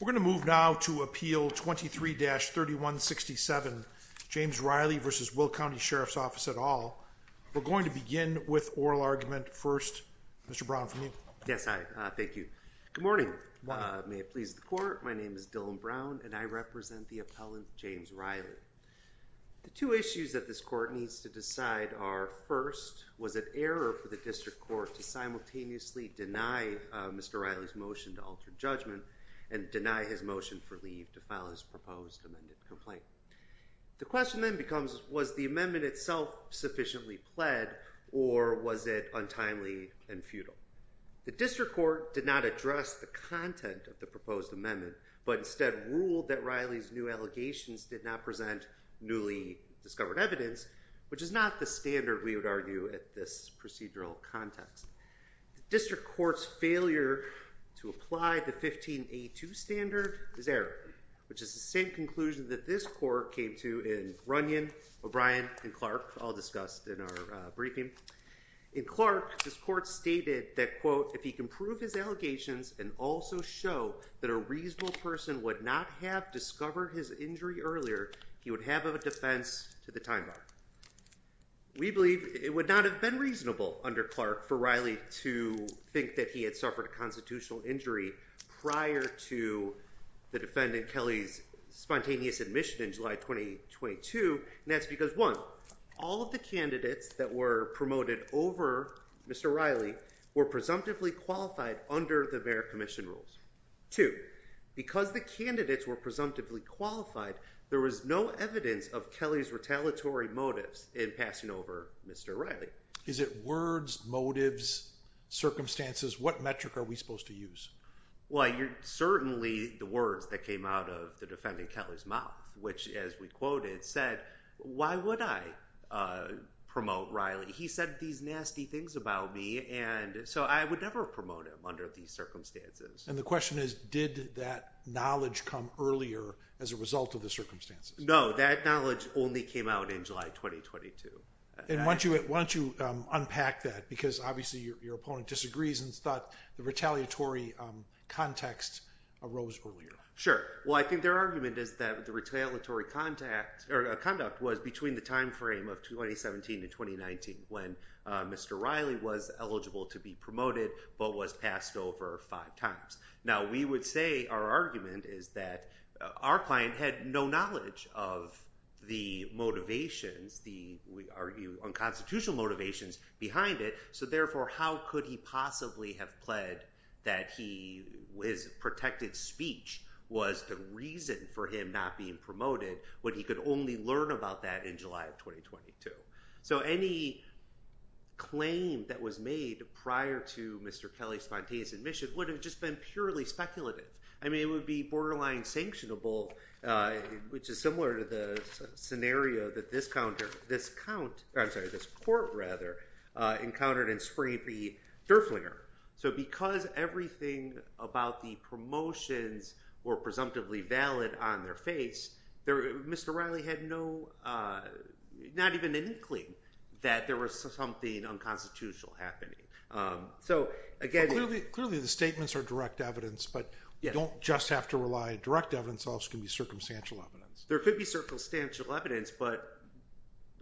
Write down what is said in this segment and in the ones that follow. We're going to move now to appeal 23-3167 James Reilly v. Will County Sheriff's Office We're going to begin with oral argument first. Mr. Brown from you. Yes, I thank you. Good morning. May it please the court. My name is Dylan Brown and I represent the appellant James Reilly. The two issues that this court needs to decide are first was an error for the district court to simultaneously deny Mr. Reilly's motion to alter judgment and deny his motion for leave to file his proposed amended complaint. The question then becomes was the amendment itself sufficiently pled or was it untimely and futile. The district court did not address the content of the proposed amendment but instead ruled that Reilly's new allegations did not present newly discovered evidence which is not the standard we would argue at this procedural context. The district court's failure to apply the 15A2 standard is error which is the same conclusion that this court came to in Runyon, O'Brien and Clark all discussed in our briefing. In Clark this court stated that quote if he can prove his allegations and also show that a reasonable person would not have discovered his injury earlier he would have a defense to the time bar. We believe it would not have been reasonable under Clark for Reilly to think that he had suffered a constitutional injury prior to the defendant Kelly's spontaneous admission in July 2022. That's because one all of the candidates that were promoted over Mr. Reilly were presumptively qualified under the Bear Commission rules. Two because the candidates were presumptively qualified there was no evidence of Kelly's retaliatory motives in passing over Mr. Reilly. Is it words motives circumstances what metric are we supposed to use? Well you're certainly the words that came out of the defendant Kelly's mouth which as we quoted said why would I promote Reilly he said these nasty things about me and so I would never promote him under these circumstances. And the question is did that knowledge come earlier as a result of the circumstances? No that knowledge only came out in July 2022. Why don't you unpack that because obviously your opponent disagrees and thought the retaliatory context arose earlier. Sure well I think their argument is that the retaliatory conduct was between the time frame of 2017 to 2019 when Mr. Reilly was eligible to be promoted but was passed over five times. Now we would say our argument is that our client had no knowledge of the motivations the we argue unconstitutional motivations behind it. So therefore how could he possibly have pled that he was protected speech was the reason for him not being promoted when he could only learn about that in July of 2022. So any claim that was made prior to Mr. Kelly's spontaneous admission would have just been purely speculative. I mean it would be borderline sanctionable which is similar to the scenario that this court encountered in Spring of the Durflinger. So because everything about the promotions were presumptively valid on their face there Mr. Reilly had no not even an inkling that there was something unconstitutional happening. Clearly the statements are direct evidence but you don't just have to rely direct evidence also can be circumstantial evidence. There could be circumstantial evidence but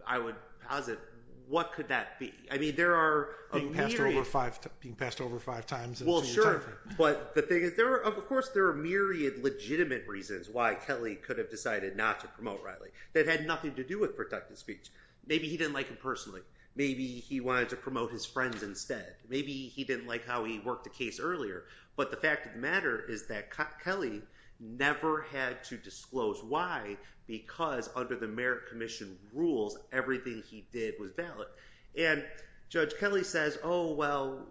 I would posit what could that be? I mean there are a myriad. Being passed over five times. Well sure but the thing is there are of course there are myriad legitimate reasons why Kelly could have decided not to promote Reilly that had nothing to do with protected speech. Maybe he didn't like him personally. Maybe he wanted to promote his friends instead. Maybe he didn't like how he worked the case earlier. But the fact of the matter is that Kelly never had to disclose why because under the Merit Commission rules everything he did was valid. And Judge Kelly says oh well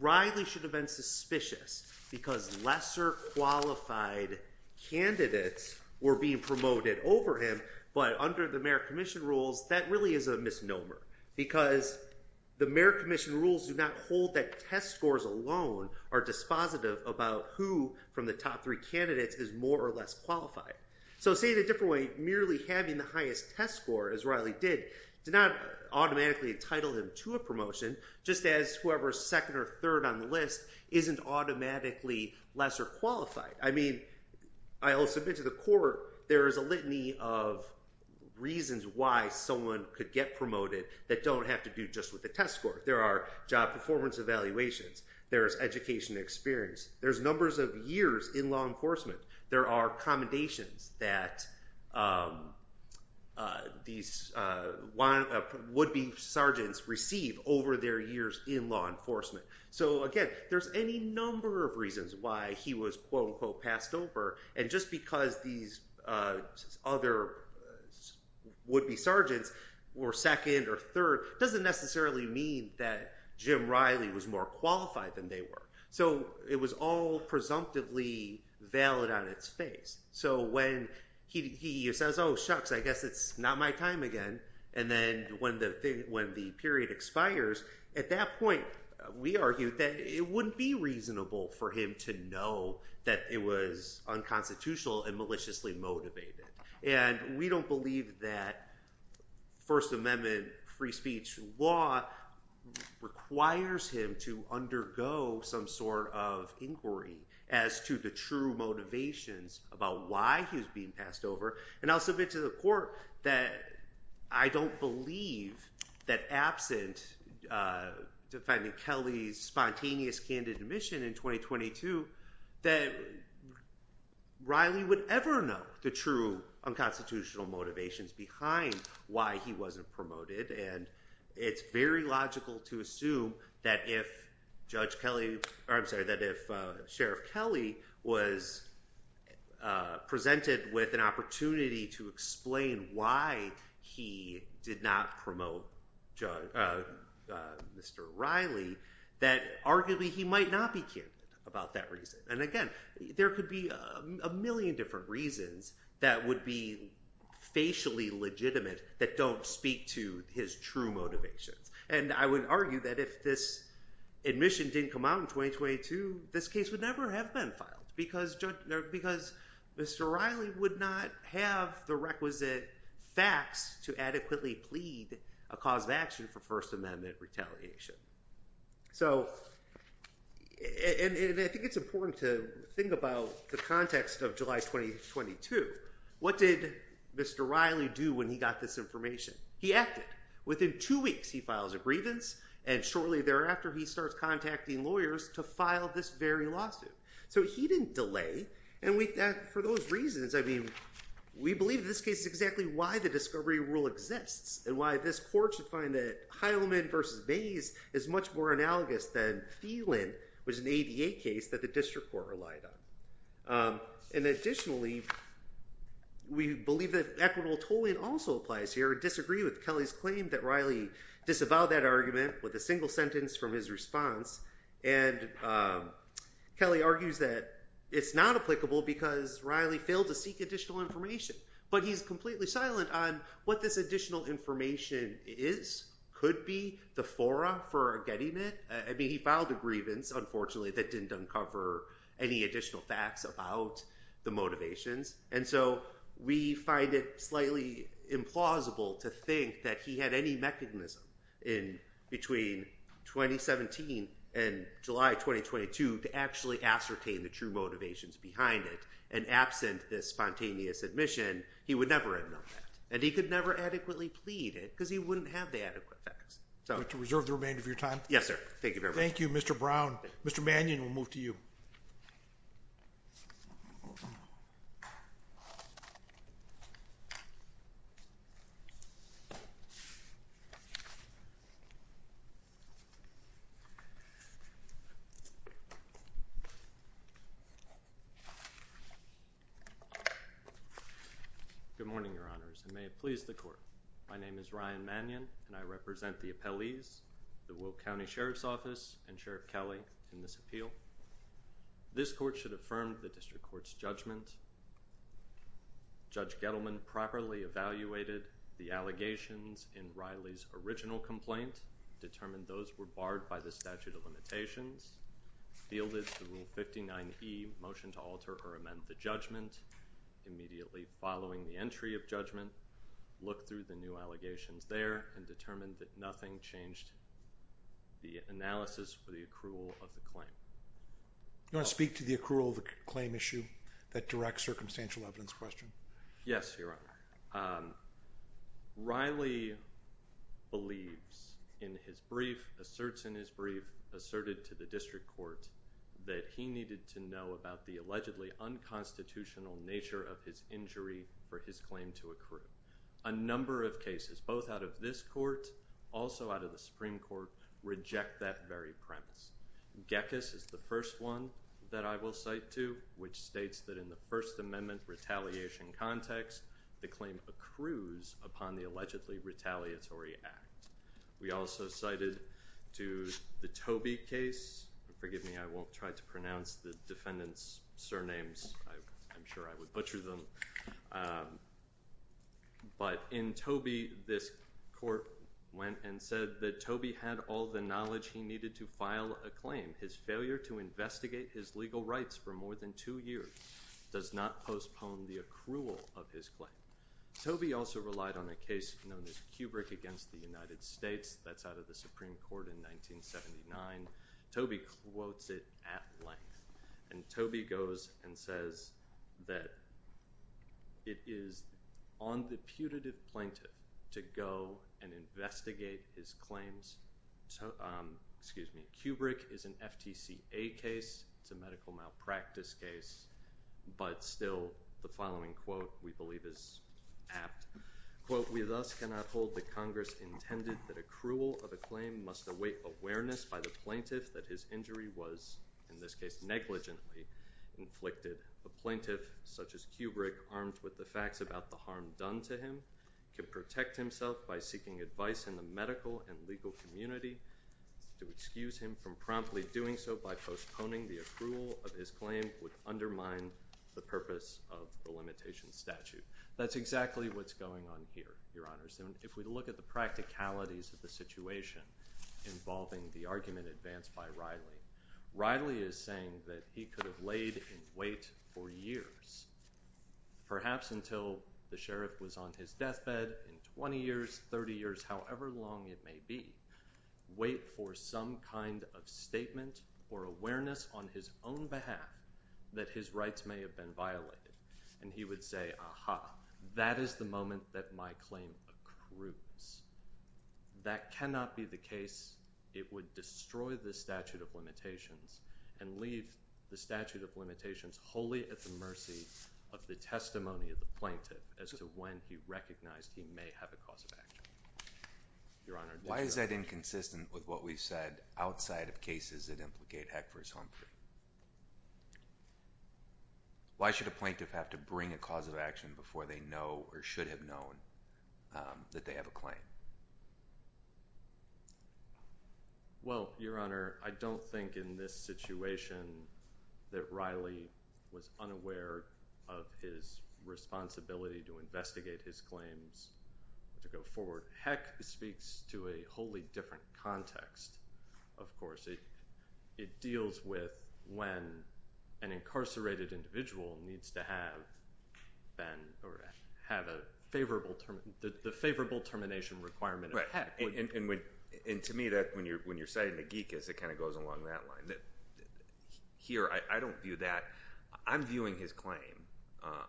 Reilly should have been suspicious because lesser qualified candidates were being promoted over him. But under the Merit Commission rules that really is a misnomer because the Merit Commission rules do not hold that test scores alone are dispositive about who from the top three candidates is more or less qualified. So say it a different way. Merely having the highest test score as Reilly did did not automatically entitle him to a promotion just as whoever is second or third on the list isn't automatically lesser qualified. I mean I'll submit to the court there is a litany of reasons why someone could get promoted that don't have to do just with the test score. There are job performance evaluations. There is education experience. There's numbers of years in law enforcement. There are commendations that these would-be sergeants receive over their years in law enforcement. So again there's any number of reasons why he was quote unquote passed over. And just because these other would-be sergeants were second or third doesn't necessarily mean that Jim Reilly was more qualified than they were. So it was all presumptively valid on its face. So when he says oh shucks I guess it's not my time again and then when the period expires at that point we argued that it wouldn't be reasonable for him to know that it was unconstitutional and maliciously motivated. And we don't believe that First Amendment free speech law requires him to undergo some sort of inquiry as to the true motivations about why he was being passed over. And I'll submit to the court that I don't believe that absent defending Kelly's spontaneous candid admission in 2022 that Reilly would ever know the true unconstitutional motivations behind why he wasn't promoted. And it's very logical to assume that if Sheriff Kelly was presented with an opportunity to explain why he did not promote Mr. Reilly that arguably he might not be candid about that reason. And again there could be a million different reasons that would be facially legitimate that don't speak to his true motivations. And I would argue that if this admission didn't come out in 2022 this case would never have been filed because Mr. Reilly would not have the requisite facts to adequately plead a cause of action for First Amendment retaliation. And I think it's important to think about the context of July 22. What did Mr. Reilly do when he got this information? He acted. Within two weeks he files a grievance and shortly thereafter he starts contacting lawyers to file this very lawsuit. So he didn't delay and for those reasons I mean we believe this case is exactly why the discovery rule exists and why this court should find that Heilman versus Mays is much more analogous than Thielen was an ADA case that the district court relied on. And additionally we believe that equitable tolling also applies here and disagree with Kelly's claim that Reilly disavowed that argument with a single sentence from his response and Kelly argues that it's not applicable because Reilly failed to seek additional information. But he's completely silent on what this additional information is, could be, the fora for getting it. I mean he filed a grievance unfortunately that didn't uncover any additional facts about the motivations. And so we find it slightly implausible to think that he had any mechanism in between 2017 and July 2022 to actually ascertain the true motivations behind it and absent this spontaneous admission he would never have known that. And he could never adequately plead it because he wouldn't have the adequate facts. Would you reserve the remainder of your time? Yes, sir. Thank you very much. Thank you, Mr. Brown. Mr. Mannion, we'll move to you. Good morning, Your Honors, and may it please the court. My name is Ryan Mannion and I represent the appellees, the Wilk County Sheriff's Office and Sheriff Kelly in this appeal. This court should affirm the district court's judgment. Judge Gettleman properly evaluated the allegations in Reilly's original complaint, determined those were barred by the statute of limitations, fielded the Rule 59E motion to alter or amend the judgment. Immediately following the entry of judgment, looked through the new allegations there and determined that nothing changed the analysis for the accrual of the claim. Do you want to speak to the accrual of the claim issue, that direct circumstantial evidence question? Yes, Your Honor. Reilly believes in his brief, asserts in his brief, asserted to the district court that he needed to know about the allegedly unconstitutional nature of his injury for his claim to accrue. A number of cases, both out of this court, also out of the Supreme Court, reject that very premise. Gekas is the first one that I will cite to, which states that in the First Amendment retaliation context, the claim accrues upon the allegedly retaliatory act. We also cited to the Toby case. Forgive me, I won't try to pronounce the defendant's surnames. I'm sure I would butcher them. But in Toby, this court went and said that Toby had all the knowledge he needed to file a claim. His failure to investigate his legal rights for more than two years does not postpone the accrual of his claim. Toby also relied on a case known as Kubrick against the United States. That's out of the Supreme Court in 1979. Toby quotes it at length. And Toby goes and says that it is on the putative plaintiff to go and investigate his claims. Excuse me. Kubrick is an FTCA case. It's a medical malpractice case. But still, the following quote we believe is apt. Quote, we thus cannot hold that Congress intended that accrual of a claim must await awareness by the plaintiff that his injury was, in this case, negligently inflicted. A plaintiff, such as Kubrick, armed with the facts about the harm done to him, can protect himself by seeking advice in the medical and legal community. To excuse him from promptly doing so by postponing the accrual of his claim would undermine the purpose of the limitation statute. That's exactly what's going on here, Your Honors. And if we look at the practicalities of the situation involving the argument advanced by Riley, Riley is saying that he could have laid in wait for years, perhaps until the sheriff was on his deathbed in 20 years, 30 years, however long it may be, wait for some kind of statement or awareness on his own behalf that his rights may have been violated. And he would say, aha, that is the moment that my claim accrues. That cannot be the case. It would destroy the statute of limitations and leave the statute of limitations wholly at the mercy of the testimony of the plaintiff as to when he recognized he may have a cause of action. Your Honor. Why is that inconsistent with what we've said outside of cases that implicate Heck versus Humphrey? Why should a plaintiff have to bring a cause of action before they know or should have known that they have a claim? Well, Your Honor, I don't think in this situation that Riley was unaware of his responsibility to investigate his claims to go forward. Heck speaks to a wholly different context, of course. It deals with when an incarcerated individual needs to have the favorable termination requirement of Heck. And to me, when you're citing Nagikis, it kind of goes along that line. Here, I don't view that. I'm viewing his claim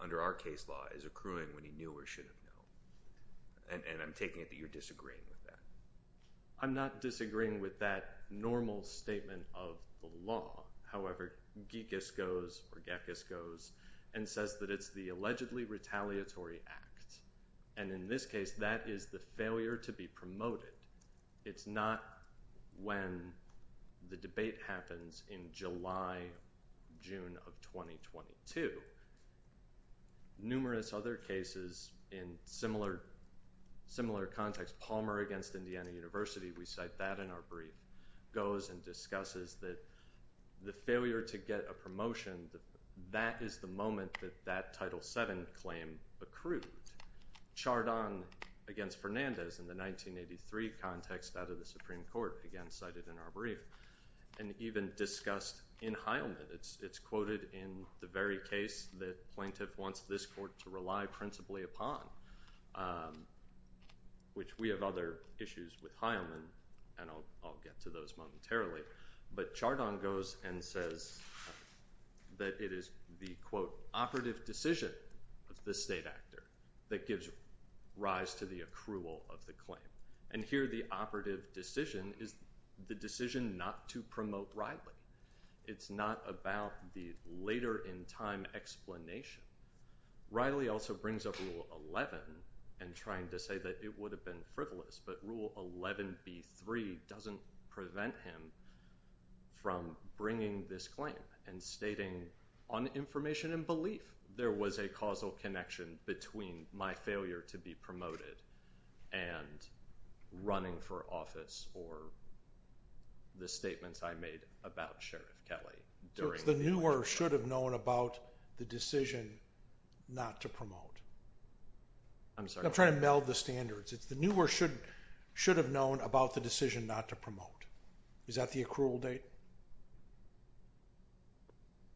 under our case law as accruing when he knew or should have known. And I'm taking it that you're disagreeing with that. I'm not disagreeing with that normal statement of the law. However, Nagikis goes, or Geckis goes, and says that it's the allegedly retaliatory act. And in this case, that is the failure to be promoted. It's not when the debate happens in July, June of 2022. Numerous other cases in similar context, Palmer against Indiana University, we cite that in our brief, goes and discusses that the failure to get a promotion, that is the moment that that Title VII claim accrued. Chardon against Fernandez in the 1983 context out of the Supreme Court, again cited in our brief, and even discussed in Heilman. It's quoted in the very case that plaintiff wants this court to rely principally upon, which we have other issues with Heilman, and I'll get to those momentarily. But Chardon goes and says that it is the, quote, operative decision of the state actor that gives rise to the accrual of the claim. And here, the operative decision is the decision not to promote rightly. It's not about the later in time explanation. Riley also brings up Rule 11 and trying to say that it would have been frivolous, but Rule 11b-3 doesn't prevent him from bringing this claim and stating on information and belief, there was a causal connection between my failure to be promoted and running for office or the statements I made about Sheriff Kelly. It's the new or should have known about the decision not to promote. I'm sorry. I'm trying to meld the standards. It's the new or should have known about the decision not to promote. Is that the accrual date?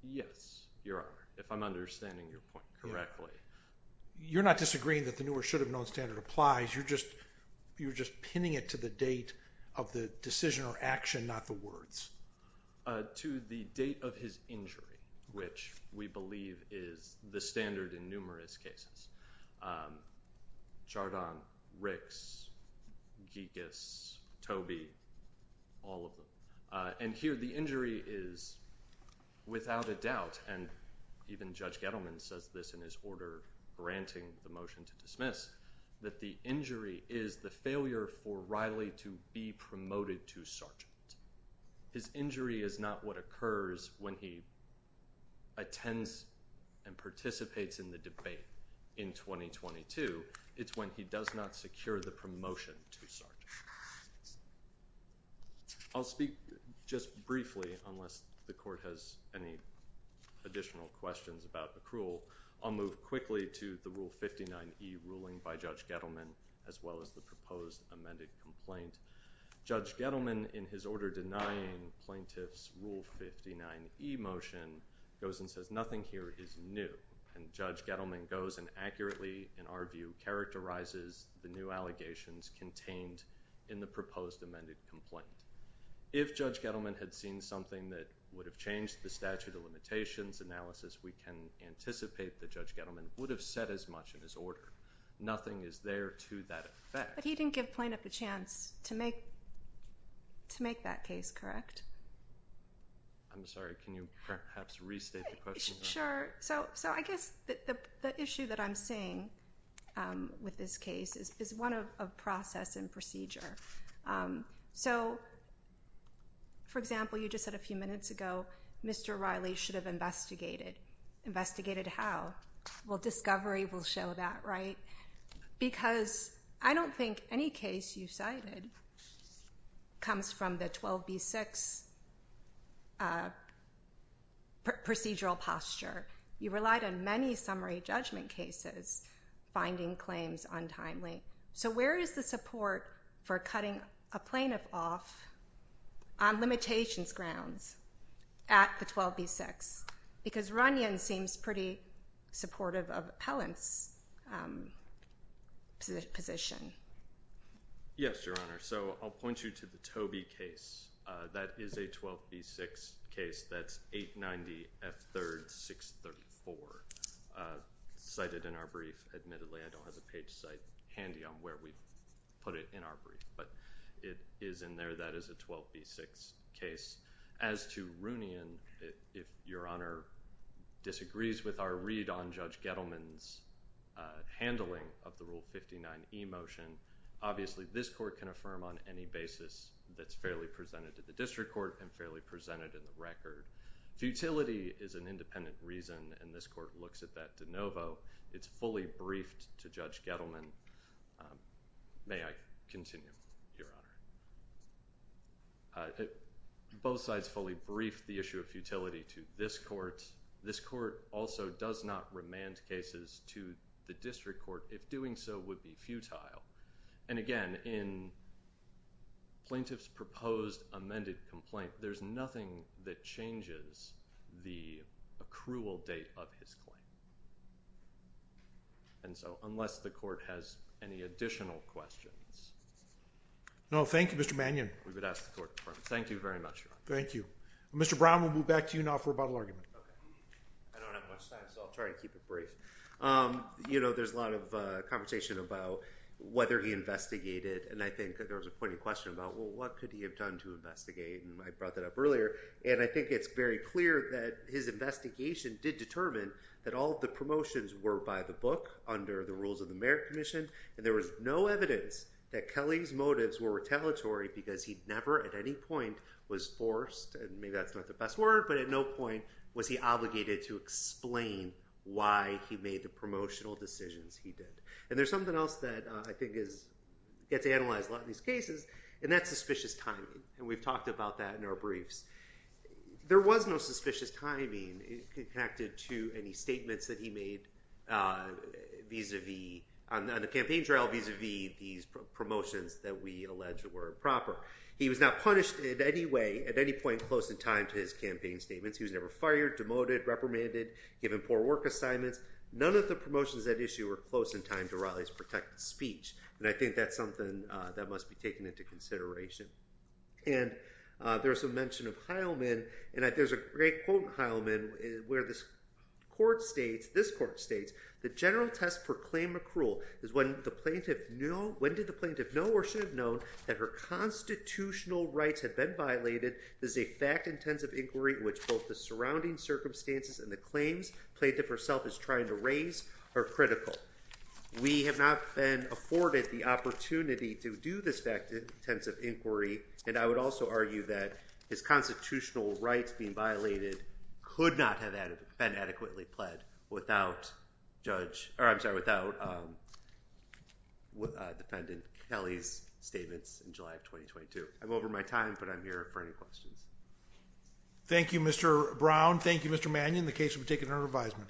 Yes, Your Honor, if I'm understanding your point correctly. You're not disagreeing that the new or should have known standard applies. You're just pinning it to the date of the decision or action, not the words. To the date of his injury, which we believe is the standard in numerous cases. Chardon, Ricks, Gigas, Tobey, all of them. And here the injury is without a doubt, and even Judge Gettleman says this in his order granting the motion to dismiss, that the injury is the failure for Riley to be promoted to sergeant. His injury is not what occurs when he attends and participates in the debate in 2022. It's when he does not secure the promotion to sergeant. I'll speak just briefly unless the court has any additional questions about accrual. I'll move quickly to the Rule 59e ruling by Judge Gettleman, as well as the proposed amended complaint. Judge Gettleman, in his order denying plaintiff's Rule 59e motion, goes and says nothing here is new. And Judge Gettleman goes and accurately, in our view, characterizes the new allegations contained in the proposed amended complaint. If Judge Gettleman had seen something that would have changed the statute of limitations analysis, we can anticipate that Judge Gettleman would have said as much in his order. Nothing is there to that effect. But he didn't give plaintiff a chance to make that case correct. I'm sorry, can you perhaps restate the question? Sure. So I guess the issue that I'm seeing with this case is one of process and procedure. So, for example, you just said a few minutes ago Mr. Riley should have investigated. Investigated how? Well, discovery will show that, right? Because I don't think any case you cited comes from the 12b-6 procedural posture. You relied on many summary judgment cases finding claims untimely. So where is the support for cutting a plaintiff off on limitations grounds at the 12b-6? Because Runyon seems pretty supportive of Appellant's position. Yes, Your Honor. So I'll point you to the Tobey case. That is a 12b-6 case. That's 890F3-634 cited in our brief. Admittedly, I don't have the page site handy on where we put it in our brief. But it is in there. That is a 12b-6 case. As to Runyon, if Your Honor disagrees with our read on Judge Gettleman's handling of the Rule 59e motion, obviously this court can affirm on any basis that's fairly presented to the district court and fairly presented in the record. Futility is an independent reason, and this court looks at that de novo. It's fully briefed to Judge Gettleman. May I continue, Your Honor? Both sides fully briefed the issue of futility to this court. This court also does not remand cases to the district court if doing so would be futile. And, again, in plaintiff's proposed amended complaint, there's nothing that changes the accrual date of his claim. And so unless the court has any additional questions. No, thank you, Mr. Manion. We would ask the court to confirm. Thank you very much, Your Honor. Thank you. Mr. Brown, we'll move back to you now for a bottle argument. Okay. I don't have much time, so I'll try to keep it brief. You know, there's a lot of conversation about whether he investigated. And I think there was a pointed question about, well, what could he have done to investigate? And I brought that up earlier. And I think it's very clear that his investigation did determine that all of the promotions were by the book under the rules of the Merit Commission. And there was no evidence that Kelly's motives were retaliatory because he never at any point was forced. And maybe that's not the best word. But at no point was he obligated to explain why he made the promotional decisions he did. And there's something else that I think gets analyzed a lot in these cases, and that's suspicious timing. And we've talked about that in our briefs. There was no suspicious timing connected to any statements that he made vis-à-vis on the campaign trial vis-à-vis these promotions that we allege were improper. He was not punished in any way at any point close in time to his campaign statements. He was never fired, demoted, reprimanded, given poor work assignments. None of the promotions at issue were close in time to Raleigh's protected speech. And I think that's something that must be taken into consideration. And there's a mention of Heilman. And there's a great quote in Heilman where this court states, the general test for claim accrual is when did the plaintiff know or should have known that her constitutional rights had been violated. This is a fact-intensive inquiry in which both the surrounding circumstances and the claims the plaintiff herself is trying to raise are critical. We have not been afforded the opportunity to do this fact-intensive inquiry. And I would also argue that his constitutional rights being violated could not have been adequately pled without Judge, or I'm sorry, without Defendant Kelly's statements in July of 2022. I'm over my time, but I'm here for any questions. Thank you, Mr. Brown. Thank you, Mr. Mannion. The case will be taken under revision.